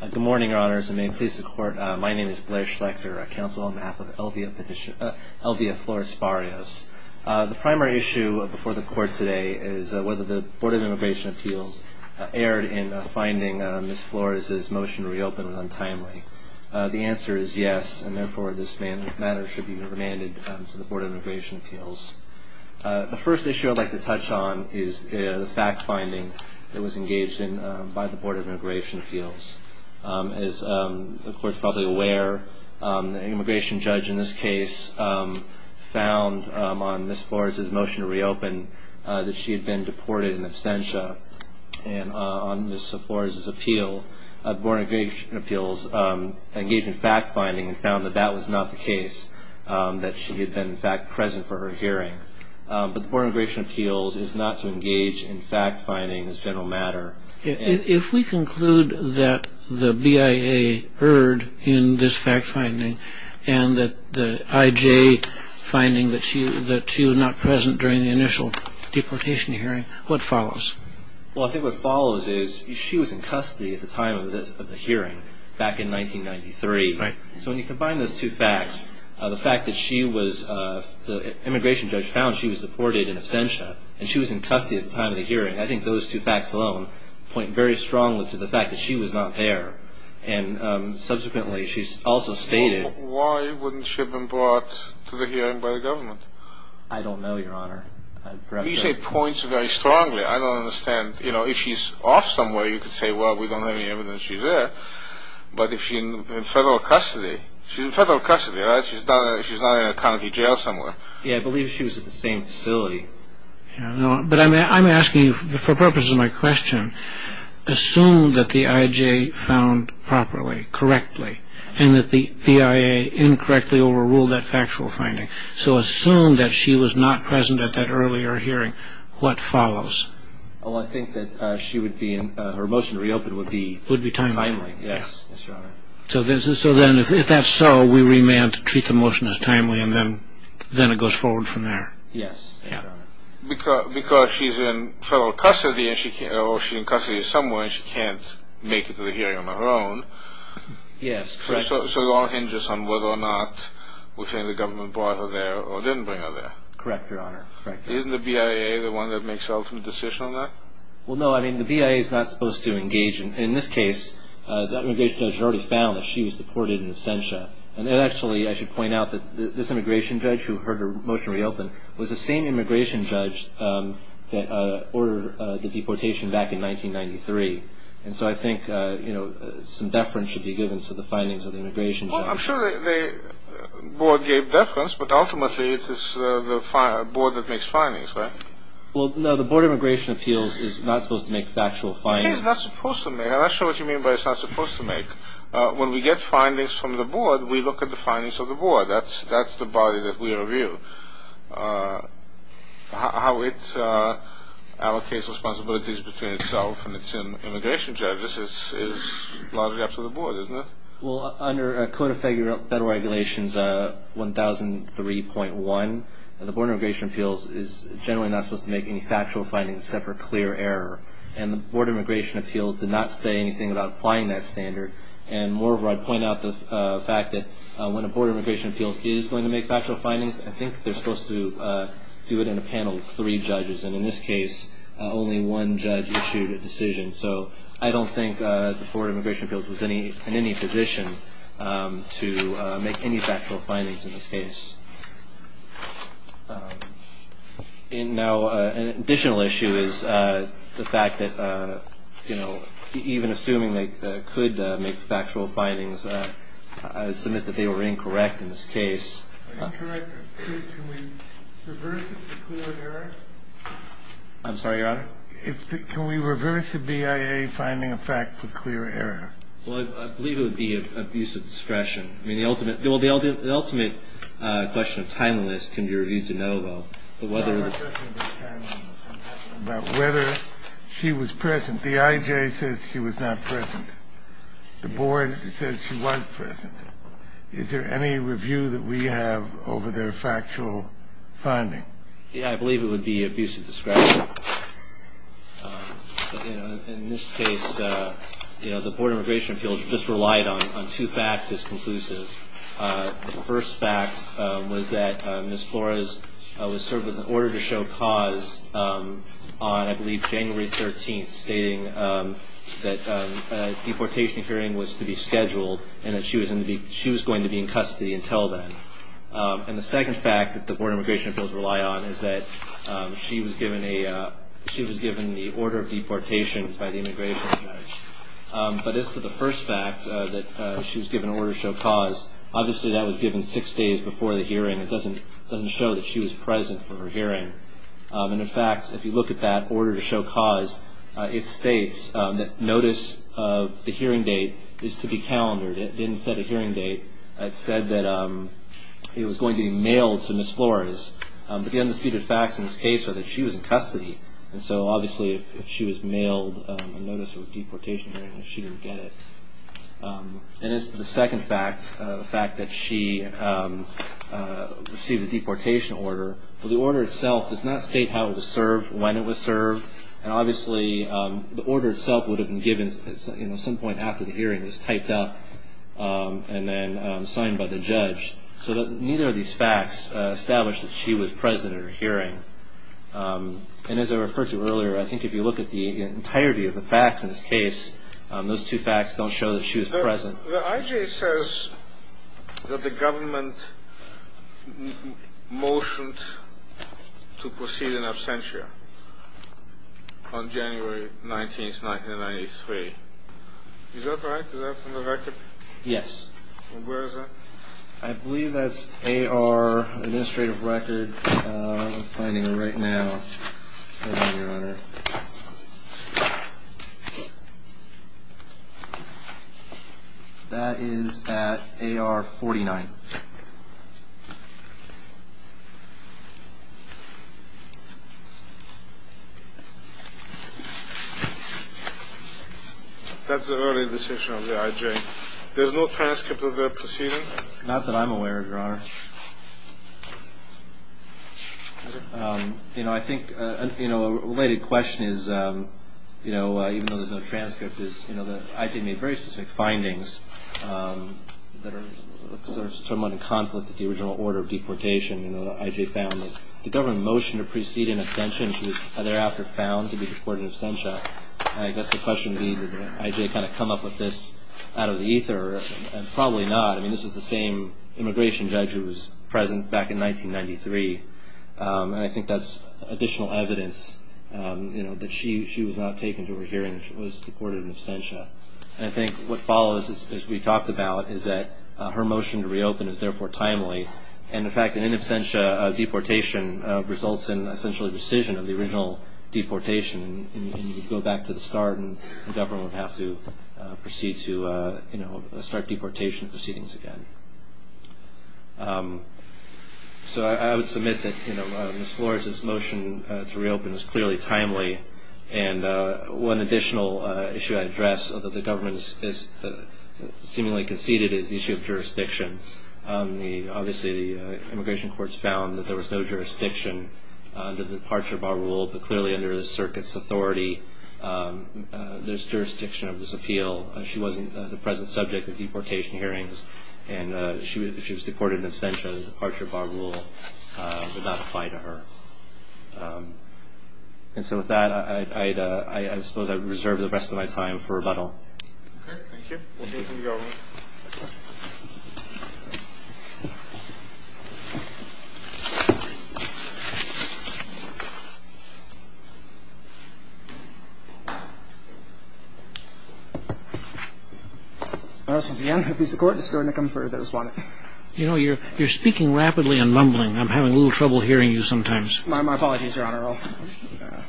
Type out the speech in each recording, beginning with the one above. Good morning, Your Honors, and may it please the Court, my name is Blair Schlechter, counsel on behalf of Elvia Flores-Barrios. The primary issue before the Court today is whether the Board of Immigration Appeals erred in finding Ms. Flores' motion to reopen was untimely. The answer is yes, and therefore this matter should be remanded to the Board of Immigration Appeals. The first issue I'd like to touch on is the fact-finding that was engaged in by the Board of Immigration Appeals. As the Court is probably aware, the immigration judge in this case found on Ms. Flores' motion to reopen that she had been deported in absentia. And on Ms. Flores' appeal, the Board of Immigration Appeals engaged in fact-finding and found that that was not the case, that she had been in fact present for her hearing. But the Board of Immigration Appeals is not to engage in fact-finding as a general matter. If we conclude that the BIA erred in this fact-finding and that the IJ finding that she was not present during the initial deportation hearing, what follows? Well, I think what follows is she was in custody at the time of the hearing back in 1993. So when you combine those two facts, the fact that she was, the immigration judge found she was deported in absentia, and she was in custody at the time of the hearing, I think those two facts alone point very strongly to the fact that she was not there. And subsequently, she also stated... Why wouldn't she have been brought to the hearing by the government? I don't know, Your Honor. You say points very strongly. I don't understand. You know, if she's off somewhere, you could say, well, we don't have any evidence she's there. But if she's in federal custody, she's in federal custody, right? She's not in a county jail somewhere. Yeah, I believe she was at the same facility. But I'm asking you for purposes of my question. Assume that the IJ found properly, correctly, and that the BIA incorrectly overruled that factual finding. So assume that she was not present at that earlier hearing. What follows? Well, I think that she would be in, her motion to reopen would be timely. Would be timely. Yes, Your Honor. So then, if that's so, we remand to treat the motion as timely, and then it goes forward from there. Yes. Because she's in federal custody, or she's in custody somewhere, and she can't make it to the hearing on her own. Yes, correct. So it all hinges on whether or not we think the government brought her there or didn't bring her there. Correct, Your Honor. Isn't the BIA the one that makes the ultimate decision on that? In this case, that immigration judge already found that she was deported in absentia. And actually, I should point out that this immigration judge who heard her motion reopen was the same immigration judge that ordered the deportation back in 1993. And so I think, you know, some deference should be given to the findings of the immigration judge. Well, I'm sure the board gave deference, but ultimately it is the board that makes findings, right? Well, no, the Board of Immigration Appeals is not supposed to make factual findings. It is not supposed to make. I'm not sure what you mean by it's not supposed to make. When we get findings from the board, we look at the findings of the board. That's the body that we review. How it allocates responsibilities between itself and its immigration judges is largely up to the board, isn't it? Well, under Code of Federal Regulations 1003.1, the Board of Immigration Appeals is generally not supposed to make any factual findings except for clear error. And the Board of Immigration Appeals did not say anything about applying that standard. And moreover, I'd point out the fact that when a Board of Immigration Appeals is going to make factual findings, I think they're supposed to do it in a panel of three judges. And in this case, only one judge issued a decision. So I don't think the Board of Immigration Appeals was in any position to make any factual findings in this case. And now an additional issue is the fact that, you know, even assuming they could make factual findings, I would submit that they were incorrect in this case. Incorrect? Can we reverse it to clear error? I'm sorry, Your Honor? Can we reverse the BIA finding a fact to clear error? Well, I believe it would be abuse of discretion. I mean, the ultimate question of timeliness can be reviewed to know, though. But whether the ---- The question of timeliness. I'm asking about whether she was present. The IJ says she was not present. The Board says she was present. Is there any review that we have over their factual finding? Yeah, I believe it would be abuse of discretion. In this case, you know, the Board of Immigration Appeals just relied on two facts as conclusive. The first fact was that Ms. Flores was served with an order to show cause on, I believe, January 13th, stating that a deportation hearing was to be scheduled and that she was going to be in custody until then. And the second fact that the Board of Immigration Appeals relied on is that she was given the order of deportation by the Immigration Attorney. But as to the first fact, that she was given an order to show cause, obviously that was given six days before the hearing. It doesn't show that she was present for her hearing. And, in fact, if you look at that order to show cause, it states that notice of the hearing date is to be calendared. It didn't set a hearing date. It said that it was going to be mailed to Ms. Flores. But the undisputed facts in this case are that she was in custody. And so, obviously, if she was mailed a notice of a deportation hearing, she didn't get it. And as to the second fact, the fact that she received a deportation order, the order itself does not state how it was served, when it was served. And, obviously, the order itself would have been given at some point after the hearing was typed up and then signed by the judge. So neither of these facts establish that she was present at her hearing. And as I referred to earlier, I think if you look at the entirety of the facts in this case, those two facts don't show that she was present. The IJ says that the government motioned to proceed in absentia on January 19, 1993. Is that right? Is that from the record? Yes. And where is that? I believe that's AR Administrative Record. I'm finding it right now, Your Honor. That is at AR 49. That's the early distinction of the IJ. There's no transcript of her proceeding? Not that I'm aware of, Your Honor. You know, I think a related question is, you know, even though there's no transcript, is the IJ made very specific findings that are somewhat in conflict with the original order of deportation. The IJ found that the government motioned to proceed in absentia and she was thereafter found to be deported in absentia. I guess the question being, did the IJ kind of come up with this out of the ether? Probably not. I mean, this is the same immigration judge who was present back in 1993. And I think that's additional evidence, you know, that she was not taken to her hearing. She was deported in absentia. And I think what follows, as we talked about, is that her motion to reopen is therefore timely. And the fact that in absentia, deportation results in essentially rescission of the original deportation and you go back to the start and the government would have to proceed to, you know, start deportation proceedings again. So I would submit that, you know, Ms. Flores, this motion to reopen is clearly timely. And one additional issue I'd address, although the government seemingly conceded, is the issue of jurisdiction. Obviously, the immigration courts found that there was no jurisdiction under the departure bar rule, but clearly under the circuit's authority there's jurisdiction of this appeal. She wasn't the present subject of deportation hearings, and she was deported in absentia under the departure bar rule, but that's fine to her. And so with that, I suppose I would reserve the rest of my time for rebuttal. Okay, thank you. We'll take from the audience. All right. Once again, if the court is still in the comfort of the respondent. You know, you're speaking rapidly and mumbling. I'm having a little trouble hearing you sometimes. My apologies, Your Honor.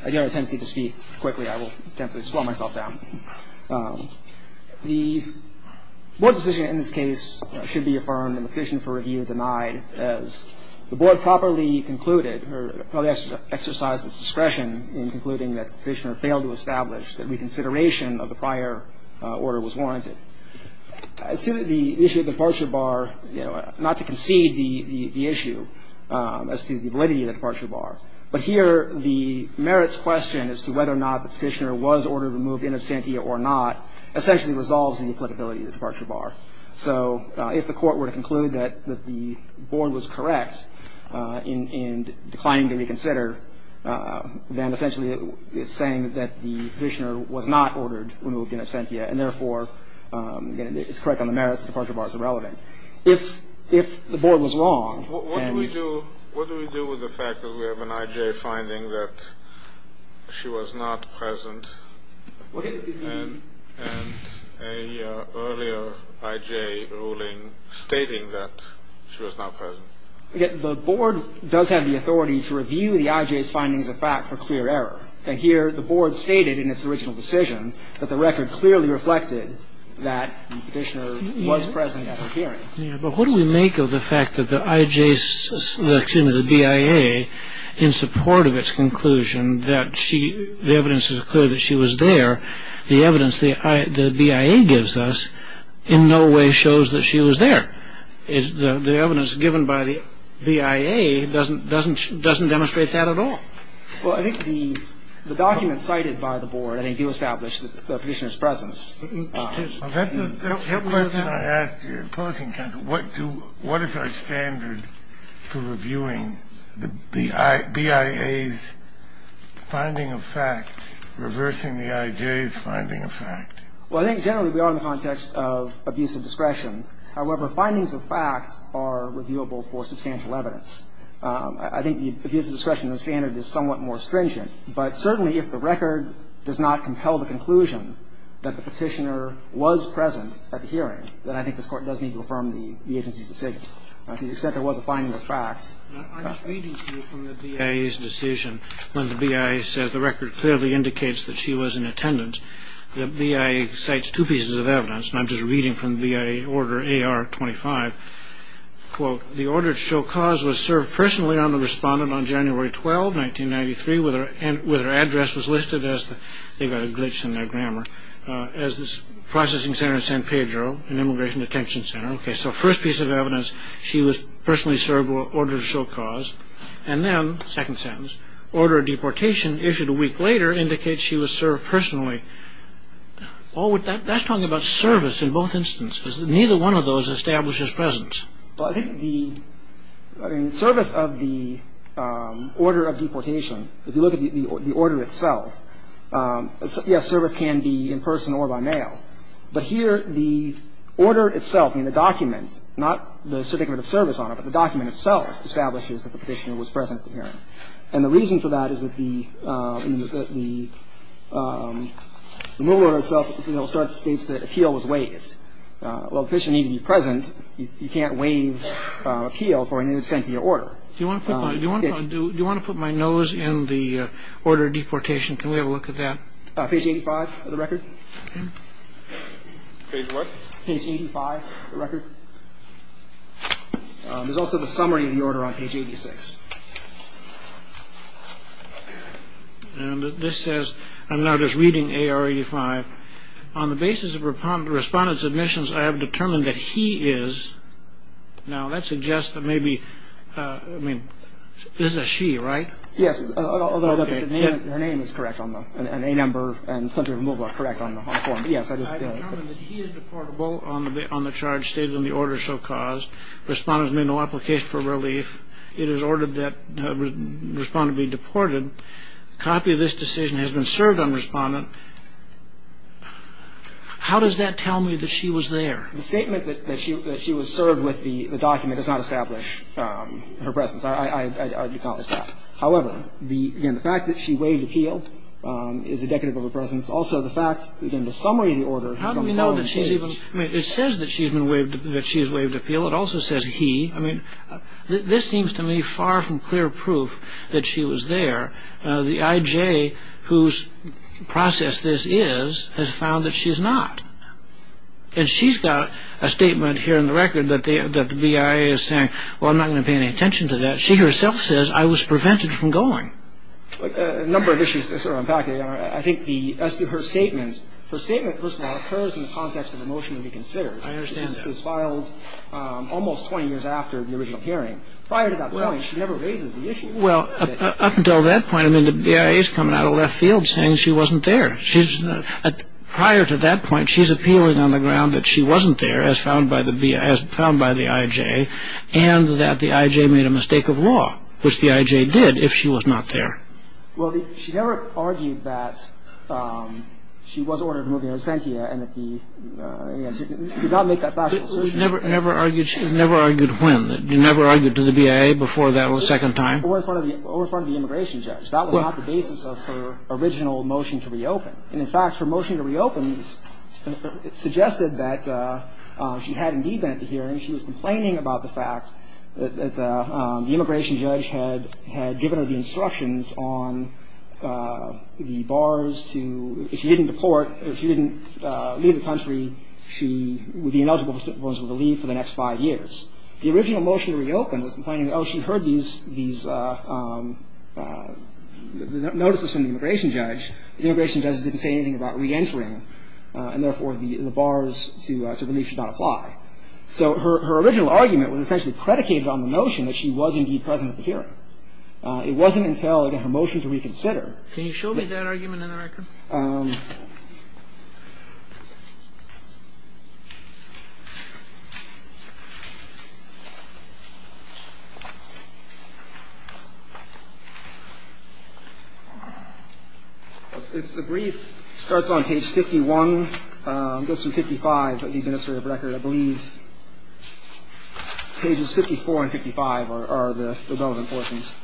I do have a tendency to speak quickly. I will attempt to slow myself down. The board's decision in this case should be affirmed and the petition for review denied, as the board properly concluded or probably exercised its discretion in concluding that the petitioner failed to establish that reconsideration of the prior order was warranted. As to the issue of departure bar, you know, not to concede the issue as to the validity of the departure bar, but here the merits question as to whether or not the petitioner was ordered to move in absentia or not essentially resolves the applicability of the departure bar. So if the court were to conclude that the board was correct in declining to reconsider, then essentially it's saying that the petitioner was not ordered to move in absentia and, therefore, it's correct on the merits, departure bar is irrelevant. If the board was wrong and you... I have an I.J. finding that she was not present. And an earlier I.J. ruling stating that she was not present. The board does have the authority to review the I.J.'s findings of fact for clear error. And here the board stated in its original decision that the record clearly reflected that the petitioner was present at the hearing. But what do we make of the fact that the I.J.'s, excuse me, the B.I.A. in support of its conclusion that the evidence is clear that she was there, the evidence the B.I.A. gives us in no way shows that she was there. The evidence given by the B.I.A. doesn't demonstrate that at all. Well, I think the documents cited by the board, I think, do establish the petitioner's presence. That's the question I asked your opposing counsel. What is our standard for reviewing the B.I.A.'s finding of fact, reversing the I.J.'s finding of fact? Well, I think generally we are in the context of abuse of discretion. However, findings of fact are reviewable for substantial evidence. I think the abuse of discretion standard is somewhat more stringent. But certainly if the record does not compel the conclusion that the petitioner was present at the hearing, then I think this Court does need to affirm the agency's decision. To the extent there was a finding of fact. I was reading to you from the B.I.A.'s decision when the B.I.A. said the record clearly indicates that she was in attendance. The B.I.A. cites two pieces of evidence, and I'm just reading from the B.I.A. Order AR-25. Quote, the order to show cause was served personally on the respondent on January 12, 1993, with her address was listed as, they've got a glitch in their grammar, as the processing center in San Pedro, an immigration detention center. OK, so first piece of evidence, she was personally served with order to show cause. And then, second sentence, order of deportation issued a week later indicates she was served personally. Paul, that's talking about service in both instances. Neither one of those establishes presence. Well, I think the service of the order of deportation, if you look at the order itself, yes, service can be in person or by mail. But here, the order itself in the documents, not the certificate of service on it, but the document itself establishes that the petitioner was present at the hearing. And the reason for that is that the removal order itself states that appeal was waived. Well, the petitioner needed to be present. You can't waive appeal for an in absentia order. Do you want to put my nose in the order of deportation? Can we have a look at that? Page 85 of the record. Page what? Page 85 of the record. There's also the summary of the order on page 86. And this says, I'm now just reading A.R. 85. On the basis of respondent's admissions, I have determined that he is. Now, that suggests that maybe, I mean, this is a she, right? Yes, although her name is correct on the, and a number and country of removal are correct on the form. I have determined that he is deportable on the charge stated in the order so caused. Respondent has made no application for relief. It is ordered that the respondent be deported. A copy of this decision has been served on respondent. How does that tell me that she was there? The statement that she was served with the document does not establish her presence. I acknowledge that. However, again, the fact that she waived appeal is indicative of her presence. Also, the fact, again, the summary of the order. How do we know that she's even, I mean, it says that she's been waived, that she's waived appeal. It also says he. I mean, this seems to me far from clear proof that she was there. The IJ, whose process this is, has found that she's not. And she's got a statement here in the record that the BIA is saying, well, I'm not going to pay any attention to that. She herself says, I was prevented from going. A number of issues are impacted. I think as to her statement, her statement first of all occurs in the context of a motion to be considered. I understand that. It was filed almost 20 years after the original hearing. Prior to that point, she never raises the issue. Well, up until that point, I mean, the BIA is coming out of left field saying she wasn't there. Prior to that point, she's appealing on the ground that she wasn't there, as found by the IJ, and that the IJ made a mistake of law, which the IJ did if she was not there. Well, she never argued that she was ordered to move in as sentia and that the, you know, she did not make that factual decision. Never argued when? You never argued to the BIA before that second time? Over in front of the immigration judge. That was not the basis of her original motion to reopen. And, in fact, her motion to reopen suggested that she had indeed been at the hearing. She was complaining about the fact that the immigration judge had given her the instructions on the bars to, if she didn't deport, if she didn't leave the country, she would be ineligible for the leave for the next five years. The original motion to reopen was complaining, oh, she heard these notices from the immigration judge. The immigration judge didn't say anything about reentering, and, therefore, the bars to the leave should not apply. So her original argument was essentially predicated on the notion that she was indeed present at the hearing. It wasn't until, again, her motion to reconsider. Can you show me that argument in the record? It's a brief. It starts on page 51, goes through 55 of the administrative record, I believe. Pages 54 and 55 are the relevant portions.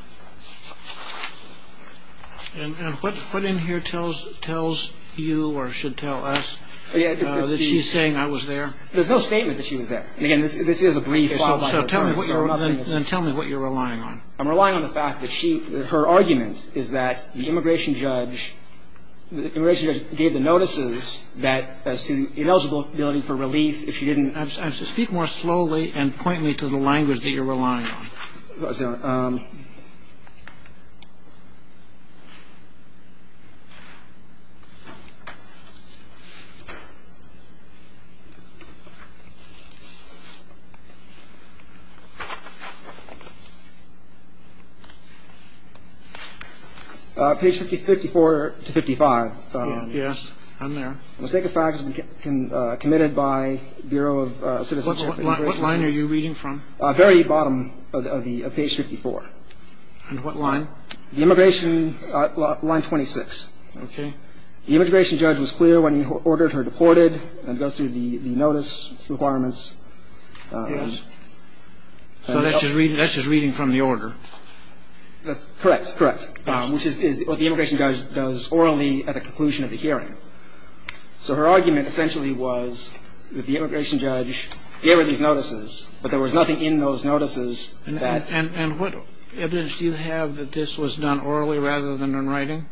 And what in here tells you or should tell us that she's saying I was there? There's no statement that she was there. Again, this is a brief. So tell me what you're relying on. I'm relying on the fact that she, her argument is that the immigration judge, the immigration judge gave the notices that as to ineligibility for relief, if she didn't I have to speak more slowly and point me to the language that you're relying on. Page 54 to 55. Yes, I'm there. Let's take the facts committed by Bureau of Citizenship. What line are you reading from? Very bottom of the page 54. And what line? The immigration line 26. Okay. The immigration judge was clear when he ordered her deported and goes through the notice requirements. So that's just reading from the order. That's correct, correct, which is what the immigration judge does orally at the conclusion of the hearing. So her argument essentially was that the immigration judge gave her these notices, but there was nothing in those notices. And what evidence do you have that this was done orally rather than in writing?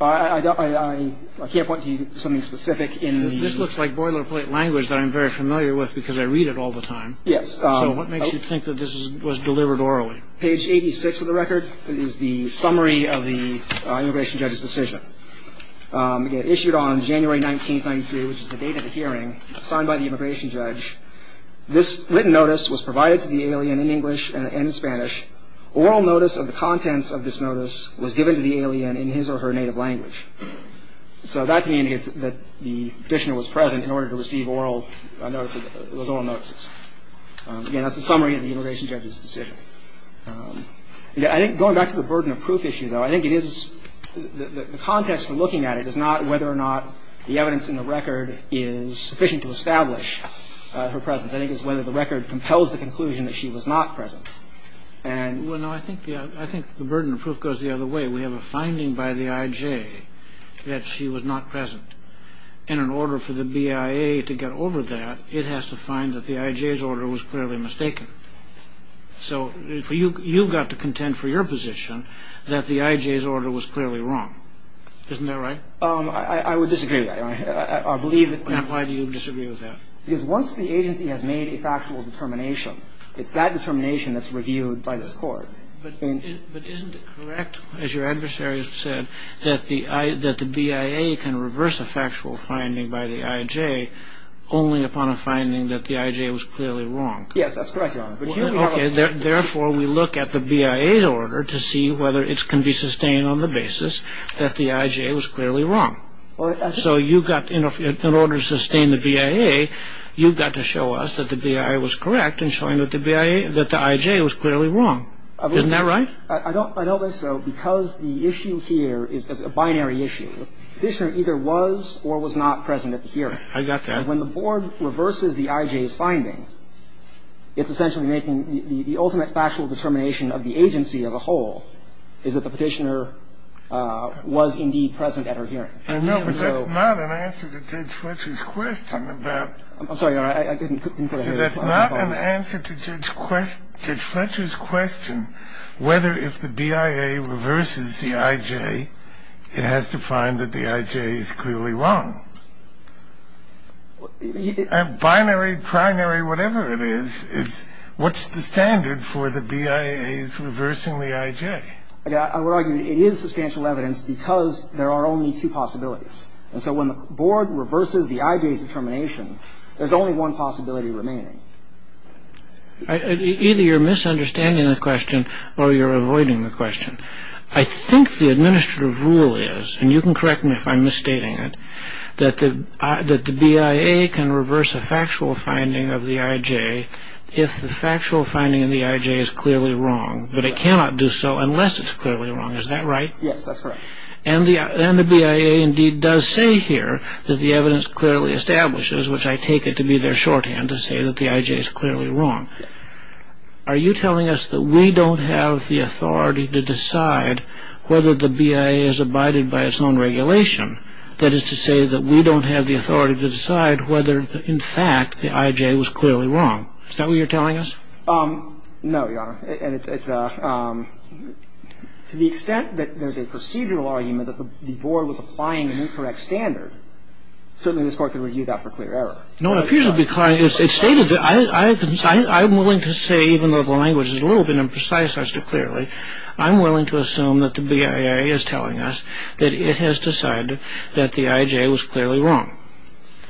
I can't point to something specific in the. This looks like boilerplate language that I'm very familiar with because I read it all the time. Yes. So what makes you think that this was delivered orally? Page 86 of the record is the summary of the immigration judge's decision. Again, issued on January 1993, which is the date of the hearing, signed by the immigration judge. This written notice was provided to the alien in English and in Spanish. Oral notice of the contents of this notice was given to the alien in his or her native language. So that's an indication that the petitioner was present in order to receive oral notices. Again, that's the summary of the immigration judge's decision. I think going back to the burden of proof issue, though, I think it is the context for looking at it is not whether or not the evidence in the record is sufficient to establish her presence. I think it's whether the record compels the conclusion that she was not present. Well, no, I think the burden of proof goes the other way. We have a finding by the I.J. that she was not present. And in order for the BIA to get over that, it has to find that the I.J.'s order was clearly mistaken. So you've got to contend for your position that the I.J.'s order was clearly wrong. Isn't that right? I would disagree with that. And why do you disagree with that? Because once the agency has made a factual determination, it's that determination that's reviewed by this Court. But isn't it correct, as your adversary has said, that the BIA can reverse a factual finding by the I.J. only upon a finding that the I.J. was clearly wrong? Yes, that's correct, Your Honor. Okay. Therefore, we look at the BIA's order to see whether it can be sustained on the basis that the I.J. was clearly wrong. So you've got, in order to sustain the BIA, you've got to show us that the BIA was correct in showing that the I.J. was clearly wrong. Isn't that right? I don't think so, because the issue here is a binary issue. The petitioner either was or was not present at the hearing. I got that. And when the board reverses the I.J.'s finding, it's essentially making the ultimate factual determination of the agency as a whole is that the petitioner was indeed present at her hearing. I know, but that's not an answer to Judge Fletcher's question about... I'm sorry, Your Honor. That's not an answer to Judge Fletcher's question whether if the BIA reverses the I.J., it has to find that the I.J. is clearly wrong. Binary, primary, whatever it is, what's the standard for the BIA's reversing the I.J.? I would argue it is substantial evidence because there are only two possibilities. And so when the board reverses the I.J.'s determination, there's only one possibility remaining. Either you're misunderstanding the question or you're avoiding the question. I think the administrative rule is, and you can correct me if I'm misstating it, that the BIA can reverse a factual finding of the I.J. if the factual finding of the I.J. is clearly wrong, but it cannot do so unless it's clearly wrong. Is that right? Yes, that's correct. And the BIA indeed does say here that the evidence clearly establishes, which I take it to be their shorthand to say that the I.J. is clearly wrong. Are you telling us that we don't have the authority to decide whether the BIA has abided by its own regulation? That is to say that we don't have the authority to decide whether, in fact, the I.J. was clearly wrong. Is that what you're telling us? No, Your Honor. To the extent that there's a procedural argument that the Board was applying an incorrect standard, certainly this Court can review that for clear error. No, it appears to be clear. It's stated that I'm willing to say, even though the language is a little bit imprecise as to clearly, I'm willing to assume that the BIA is telling us that it has decided that the I.J. was clearly wrong.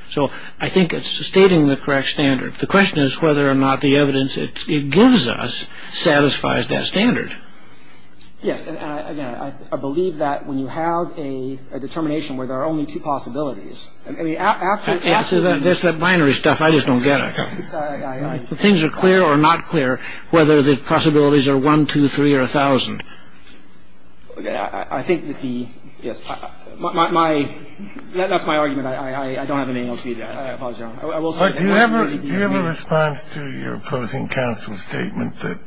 So I think it's stating the correct standard. The question is whether or not the evidence it gives us satisfies that standard. Yes. And, again, I believe that when you have a determination where there are only two possibilities, I mean, after the... There's that binary stuff. I just don't get it. Things are clear or not clear, whether the possibilities are one, two, three, or a thousand. I think that the... Yes. My... That's my argument. I don't have an AOT. I apologize, Your Honor. But do you have a response to your opposing counsel's statement that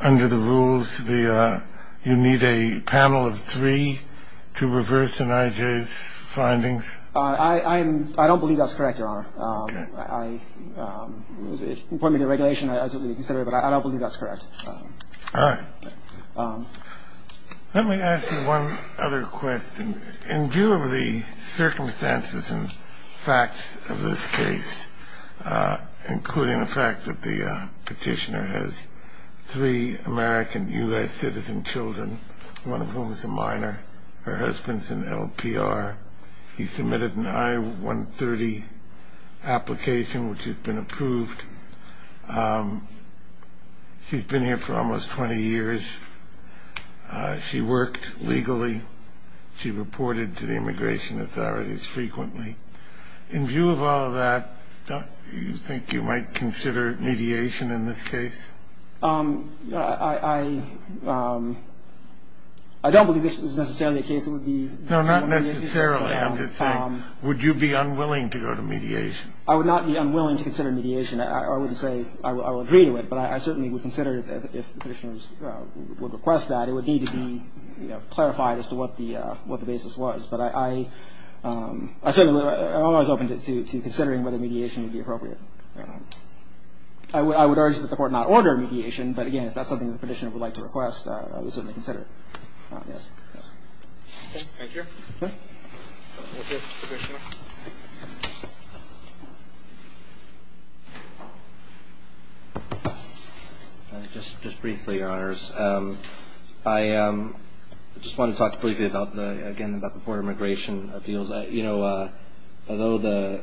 under the rules, you need a panel of three to reverse an IJ's findings? I don't believe that's correct, Your Honor. Okay. I don't believe that's correct. All right. Let me ask you one other question. In view of the circumstances and facts of this case, including the fact that the petitioner has three American U.S. citizen children, one of whom is a minor, her husband's an LPR, he submitted an I-130 application, which has been approved. She's been here for almost 20 years. She worked legally. She reported to the immigration authorities frequently. In view of all of that, don't you think you might consider mediation in this case? I don't believe this is necessarily a case that would be mediated. No, not necessarily. I'm just saying, would you be unwilling to go to mediation? I would not be unwilling to consider mediation. I wouldn't say I would agree to it, but I certainly would consider it if the petitioner would request that. It would need to be clarified as to what the basis was. But I'm always open to considering whether mediation would be appropriate. I would urge that the Court not order mediation, but, again, if that's something the petitioner would like to request, I would certainly consider it. Thank you. Okay. Thank you, Commissioner. Just briefly, Your Honors. I just want to talk briefly, again, about the Board of Immigration Appeals. You know, although the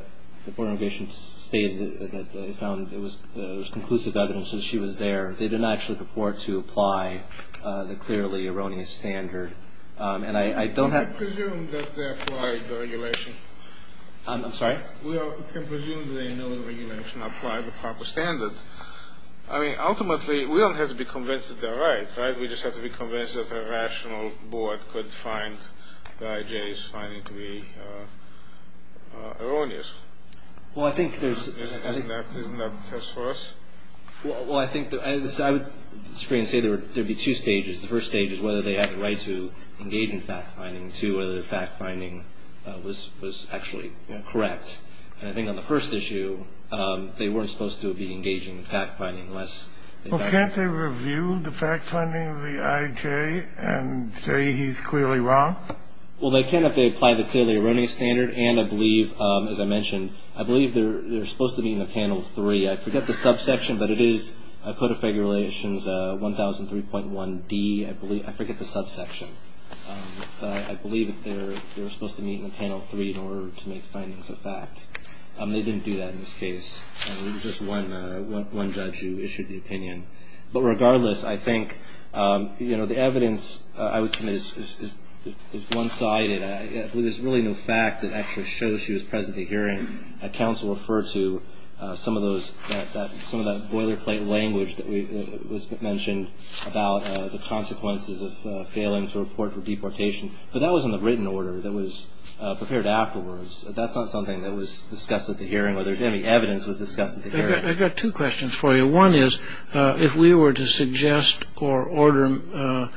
Board of Immigration stated that they found it was conclusive evidence that she was there, they did not actually purport to apply the clearly erroneous standard. And I don't have I presume that they applied the regulation. I'm sorry? We can presume that they know the regulation, applied the proper standard. I mean, ultimately, we don't have to be convinced that they're right, right? We just have to be convinced that a rational board could find the IJs finding to be erroneous. Well, I think there's Isn't that a test for us? Well, I think I would disagree and say there would be two stages. The first stage is whether they have the right to engage in fact-finding. Two, whether the fact-finding was actually correct. And I think on the first issue, they weren't supposed to be engaging in fact-finding unless Well, can't they review the fact-finding of the IJ and say he's clearly wrong? Well, they can if they apply the clearly erroneous standard. And I believe, as I mentioned, I believe they're supposed to be in the panel three. I forget the subsection, but it is Code of Regulations 1003.1D. I forget the subsection. But I believe they're supposed to meet in panel three in order to make findings of fact. They didn't do that in this case. It was just one judge who issued the opinion. But regardless, I think, you know, the evidence, I would say, is one-sided. There's really no fact that actually shows she was present at the hearing. And I think that's where counsel referred to some of those, some of that boilerplate language that was mentioned about the consequences of failing to report for deportation. But that was in the written order that was prepared afterwards. That's not something that was discussed at the hearing or there's any evidence that was discussed at the hearing. I've got two questions for you. One is, if we were to suggest or order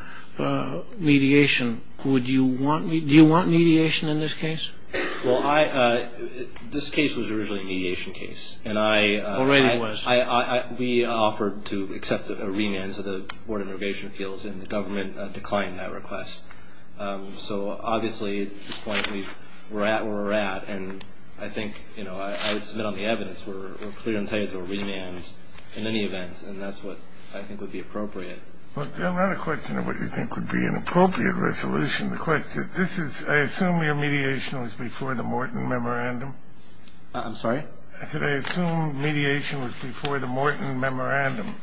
mediation, would you want, do you want mediation in this case? Well, this case was originally a mediation case. Already was. And we offered to accept a remand, so the Board of Immigration Appeals and the government declined that request. So, obviously, at this point, we're at where we're at. And I think, you know, I would submit on the evidence we're clear entitled to a remand in any event, and that's what I think would be appropriate. Well, it's not a question of what you think would be an appropriate resolution. The question, this is, I assume your mediation was before the Morton Memorandum. I'm sorry? I said I assume mediation was before the Morton Memorandum.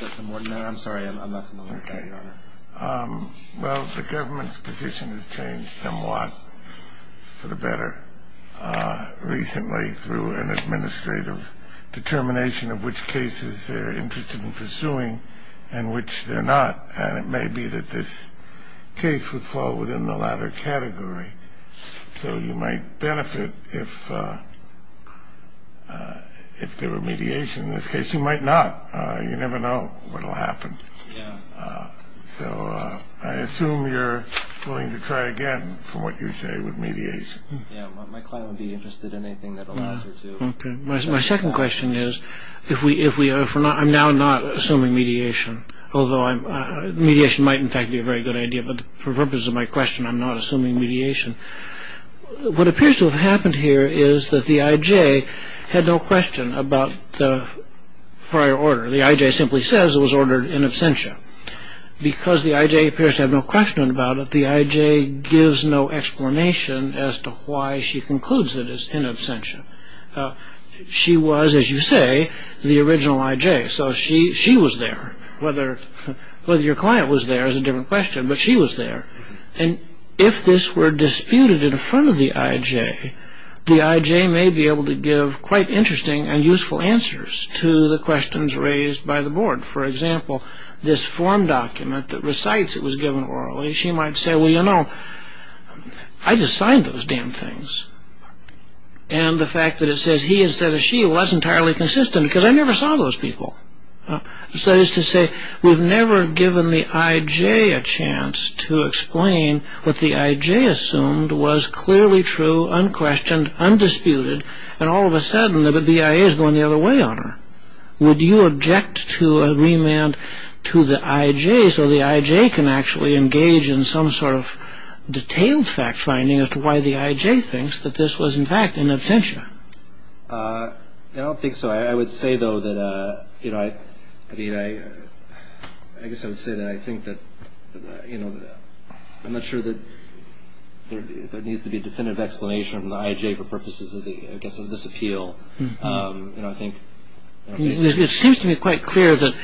That's the Morton Memorandum. I'm sorry, I'm not familiar with that, Your Honor. Okay. Well, the government's position has changed somewhat for the better recently through an administrative determination of which cases they're interested in pursuing and which they're not. And it may be that this case would fall within the latter category. So you might benefit if there were mediation in this case. You might not. You never know what will happen. Yeah. So I assume you're willing to try again for what you say with mediation. Yeah, my client would be interested in anything that allows her to. Okay. My second question is, I'm now not assuming mediation, although mediation might, in fact, be a very good idea. But for purposes of my question, I'm not assuming mediation. What appears to have happened here is that the I.J. had no question about the prior order. The I.J. simply says it was ordered in absentia. Because the I.J. appears to have no question about it, the I.J. gives no explanation as to why she concludes it is in absentia. She was, as you say, the original I.J. So she was there. Whether your client was there is a different question, but she was there. And if this were disputed in front of the I.J., the I.J. may be able to give quite interesting and useful answers to the questions raised by the board. For example, this form document that recites it was given orally, she might say, well, you know, I just signed those damn things. And the fact that it says he instead of she, well, that's entirely consistent because I never saw those people. So that is to say, we've never given the I.J. a chance to explain what the I.J. assumed was clearly true, unquestioned, undisputed, and all of a sudden the B.I.A. is going the other way on her. Would you object to agreement to the I.J. so the I.J. can actually engage in some sort of detailed fact finding as to why the I.J. thinks that this was in fact in absentia? I don't think so. I would say, though, that, you know, I mean, I guess I would say that I think that, you know, I'm not sure that there needs to be a definitive explanation from the I.J. for purposes of the, I guess, of this appeal. You know, I think... It seems to me quite clear that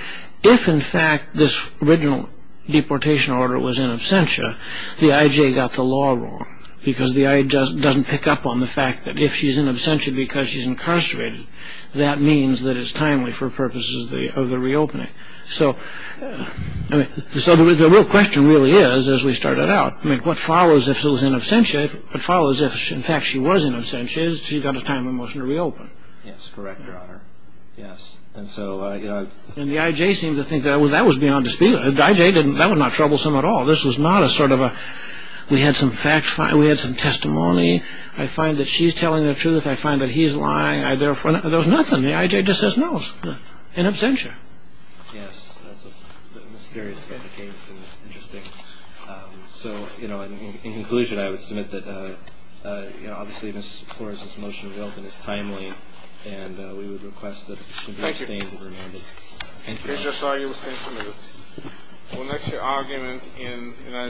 if, in fact, this original deportation order was in absentia, the I.J. got the law wrong because the I.J. doesn't pick up on the fact that if she's in absentia because she's incarcerated, that means that it's timely for purposes of the reopening. So, I mean, the real question really is, as we started out, I mean, what follows if she was in absentia, what follows if, in fact, she was in absentia is she got a time of motion to reopen. Yes, correct, Your Honor. Yes, and so... And the I.J. seemed to think that, well, that was beyond dispute. The I.J. didn't, that was not troublesome at all. This was not a sort of a, we had some fact-finding, we had some testimony. I find that she's telling the truth. I find that he's lying. There was nothing. The I.J. just says no in absentia. Yes, that's a mysterious case and interesting. So, you know, in conclusion, I would submit that, you know, obviously Ms. Flores's motion to reopen is timely, and we would request that she be abstained and remanded. Thank you. Thank you, Your Honor. Judge, I saw you abstained for a minute. Well, that's your argument in United States...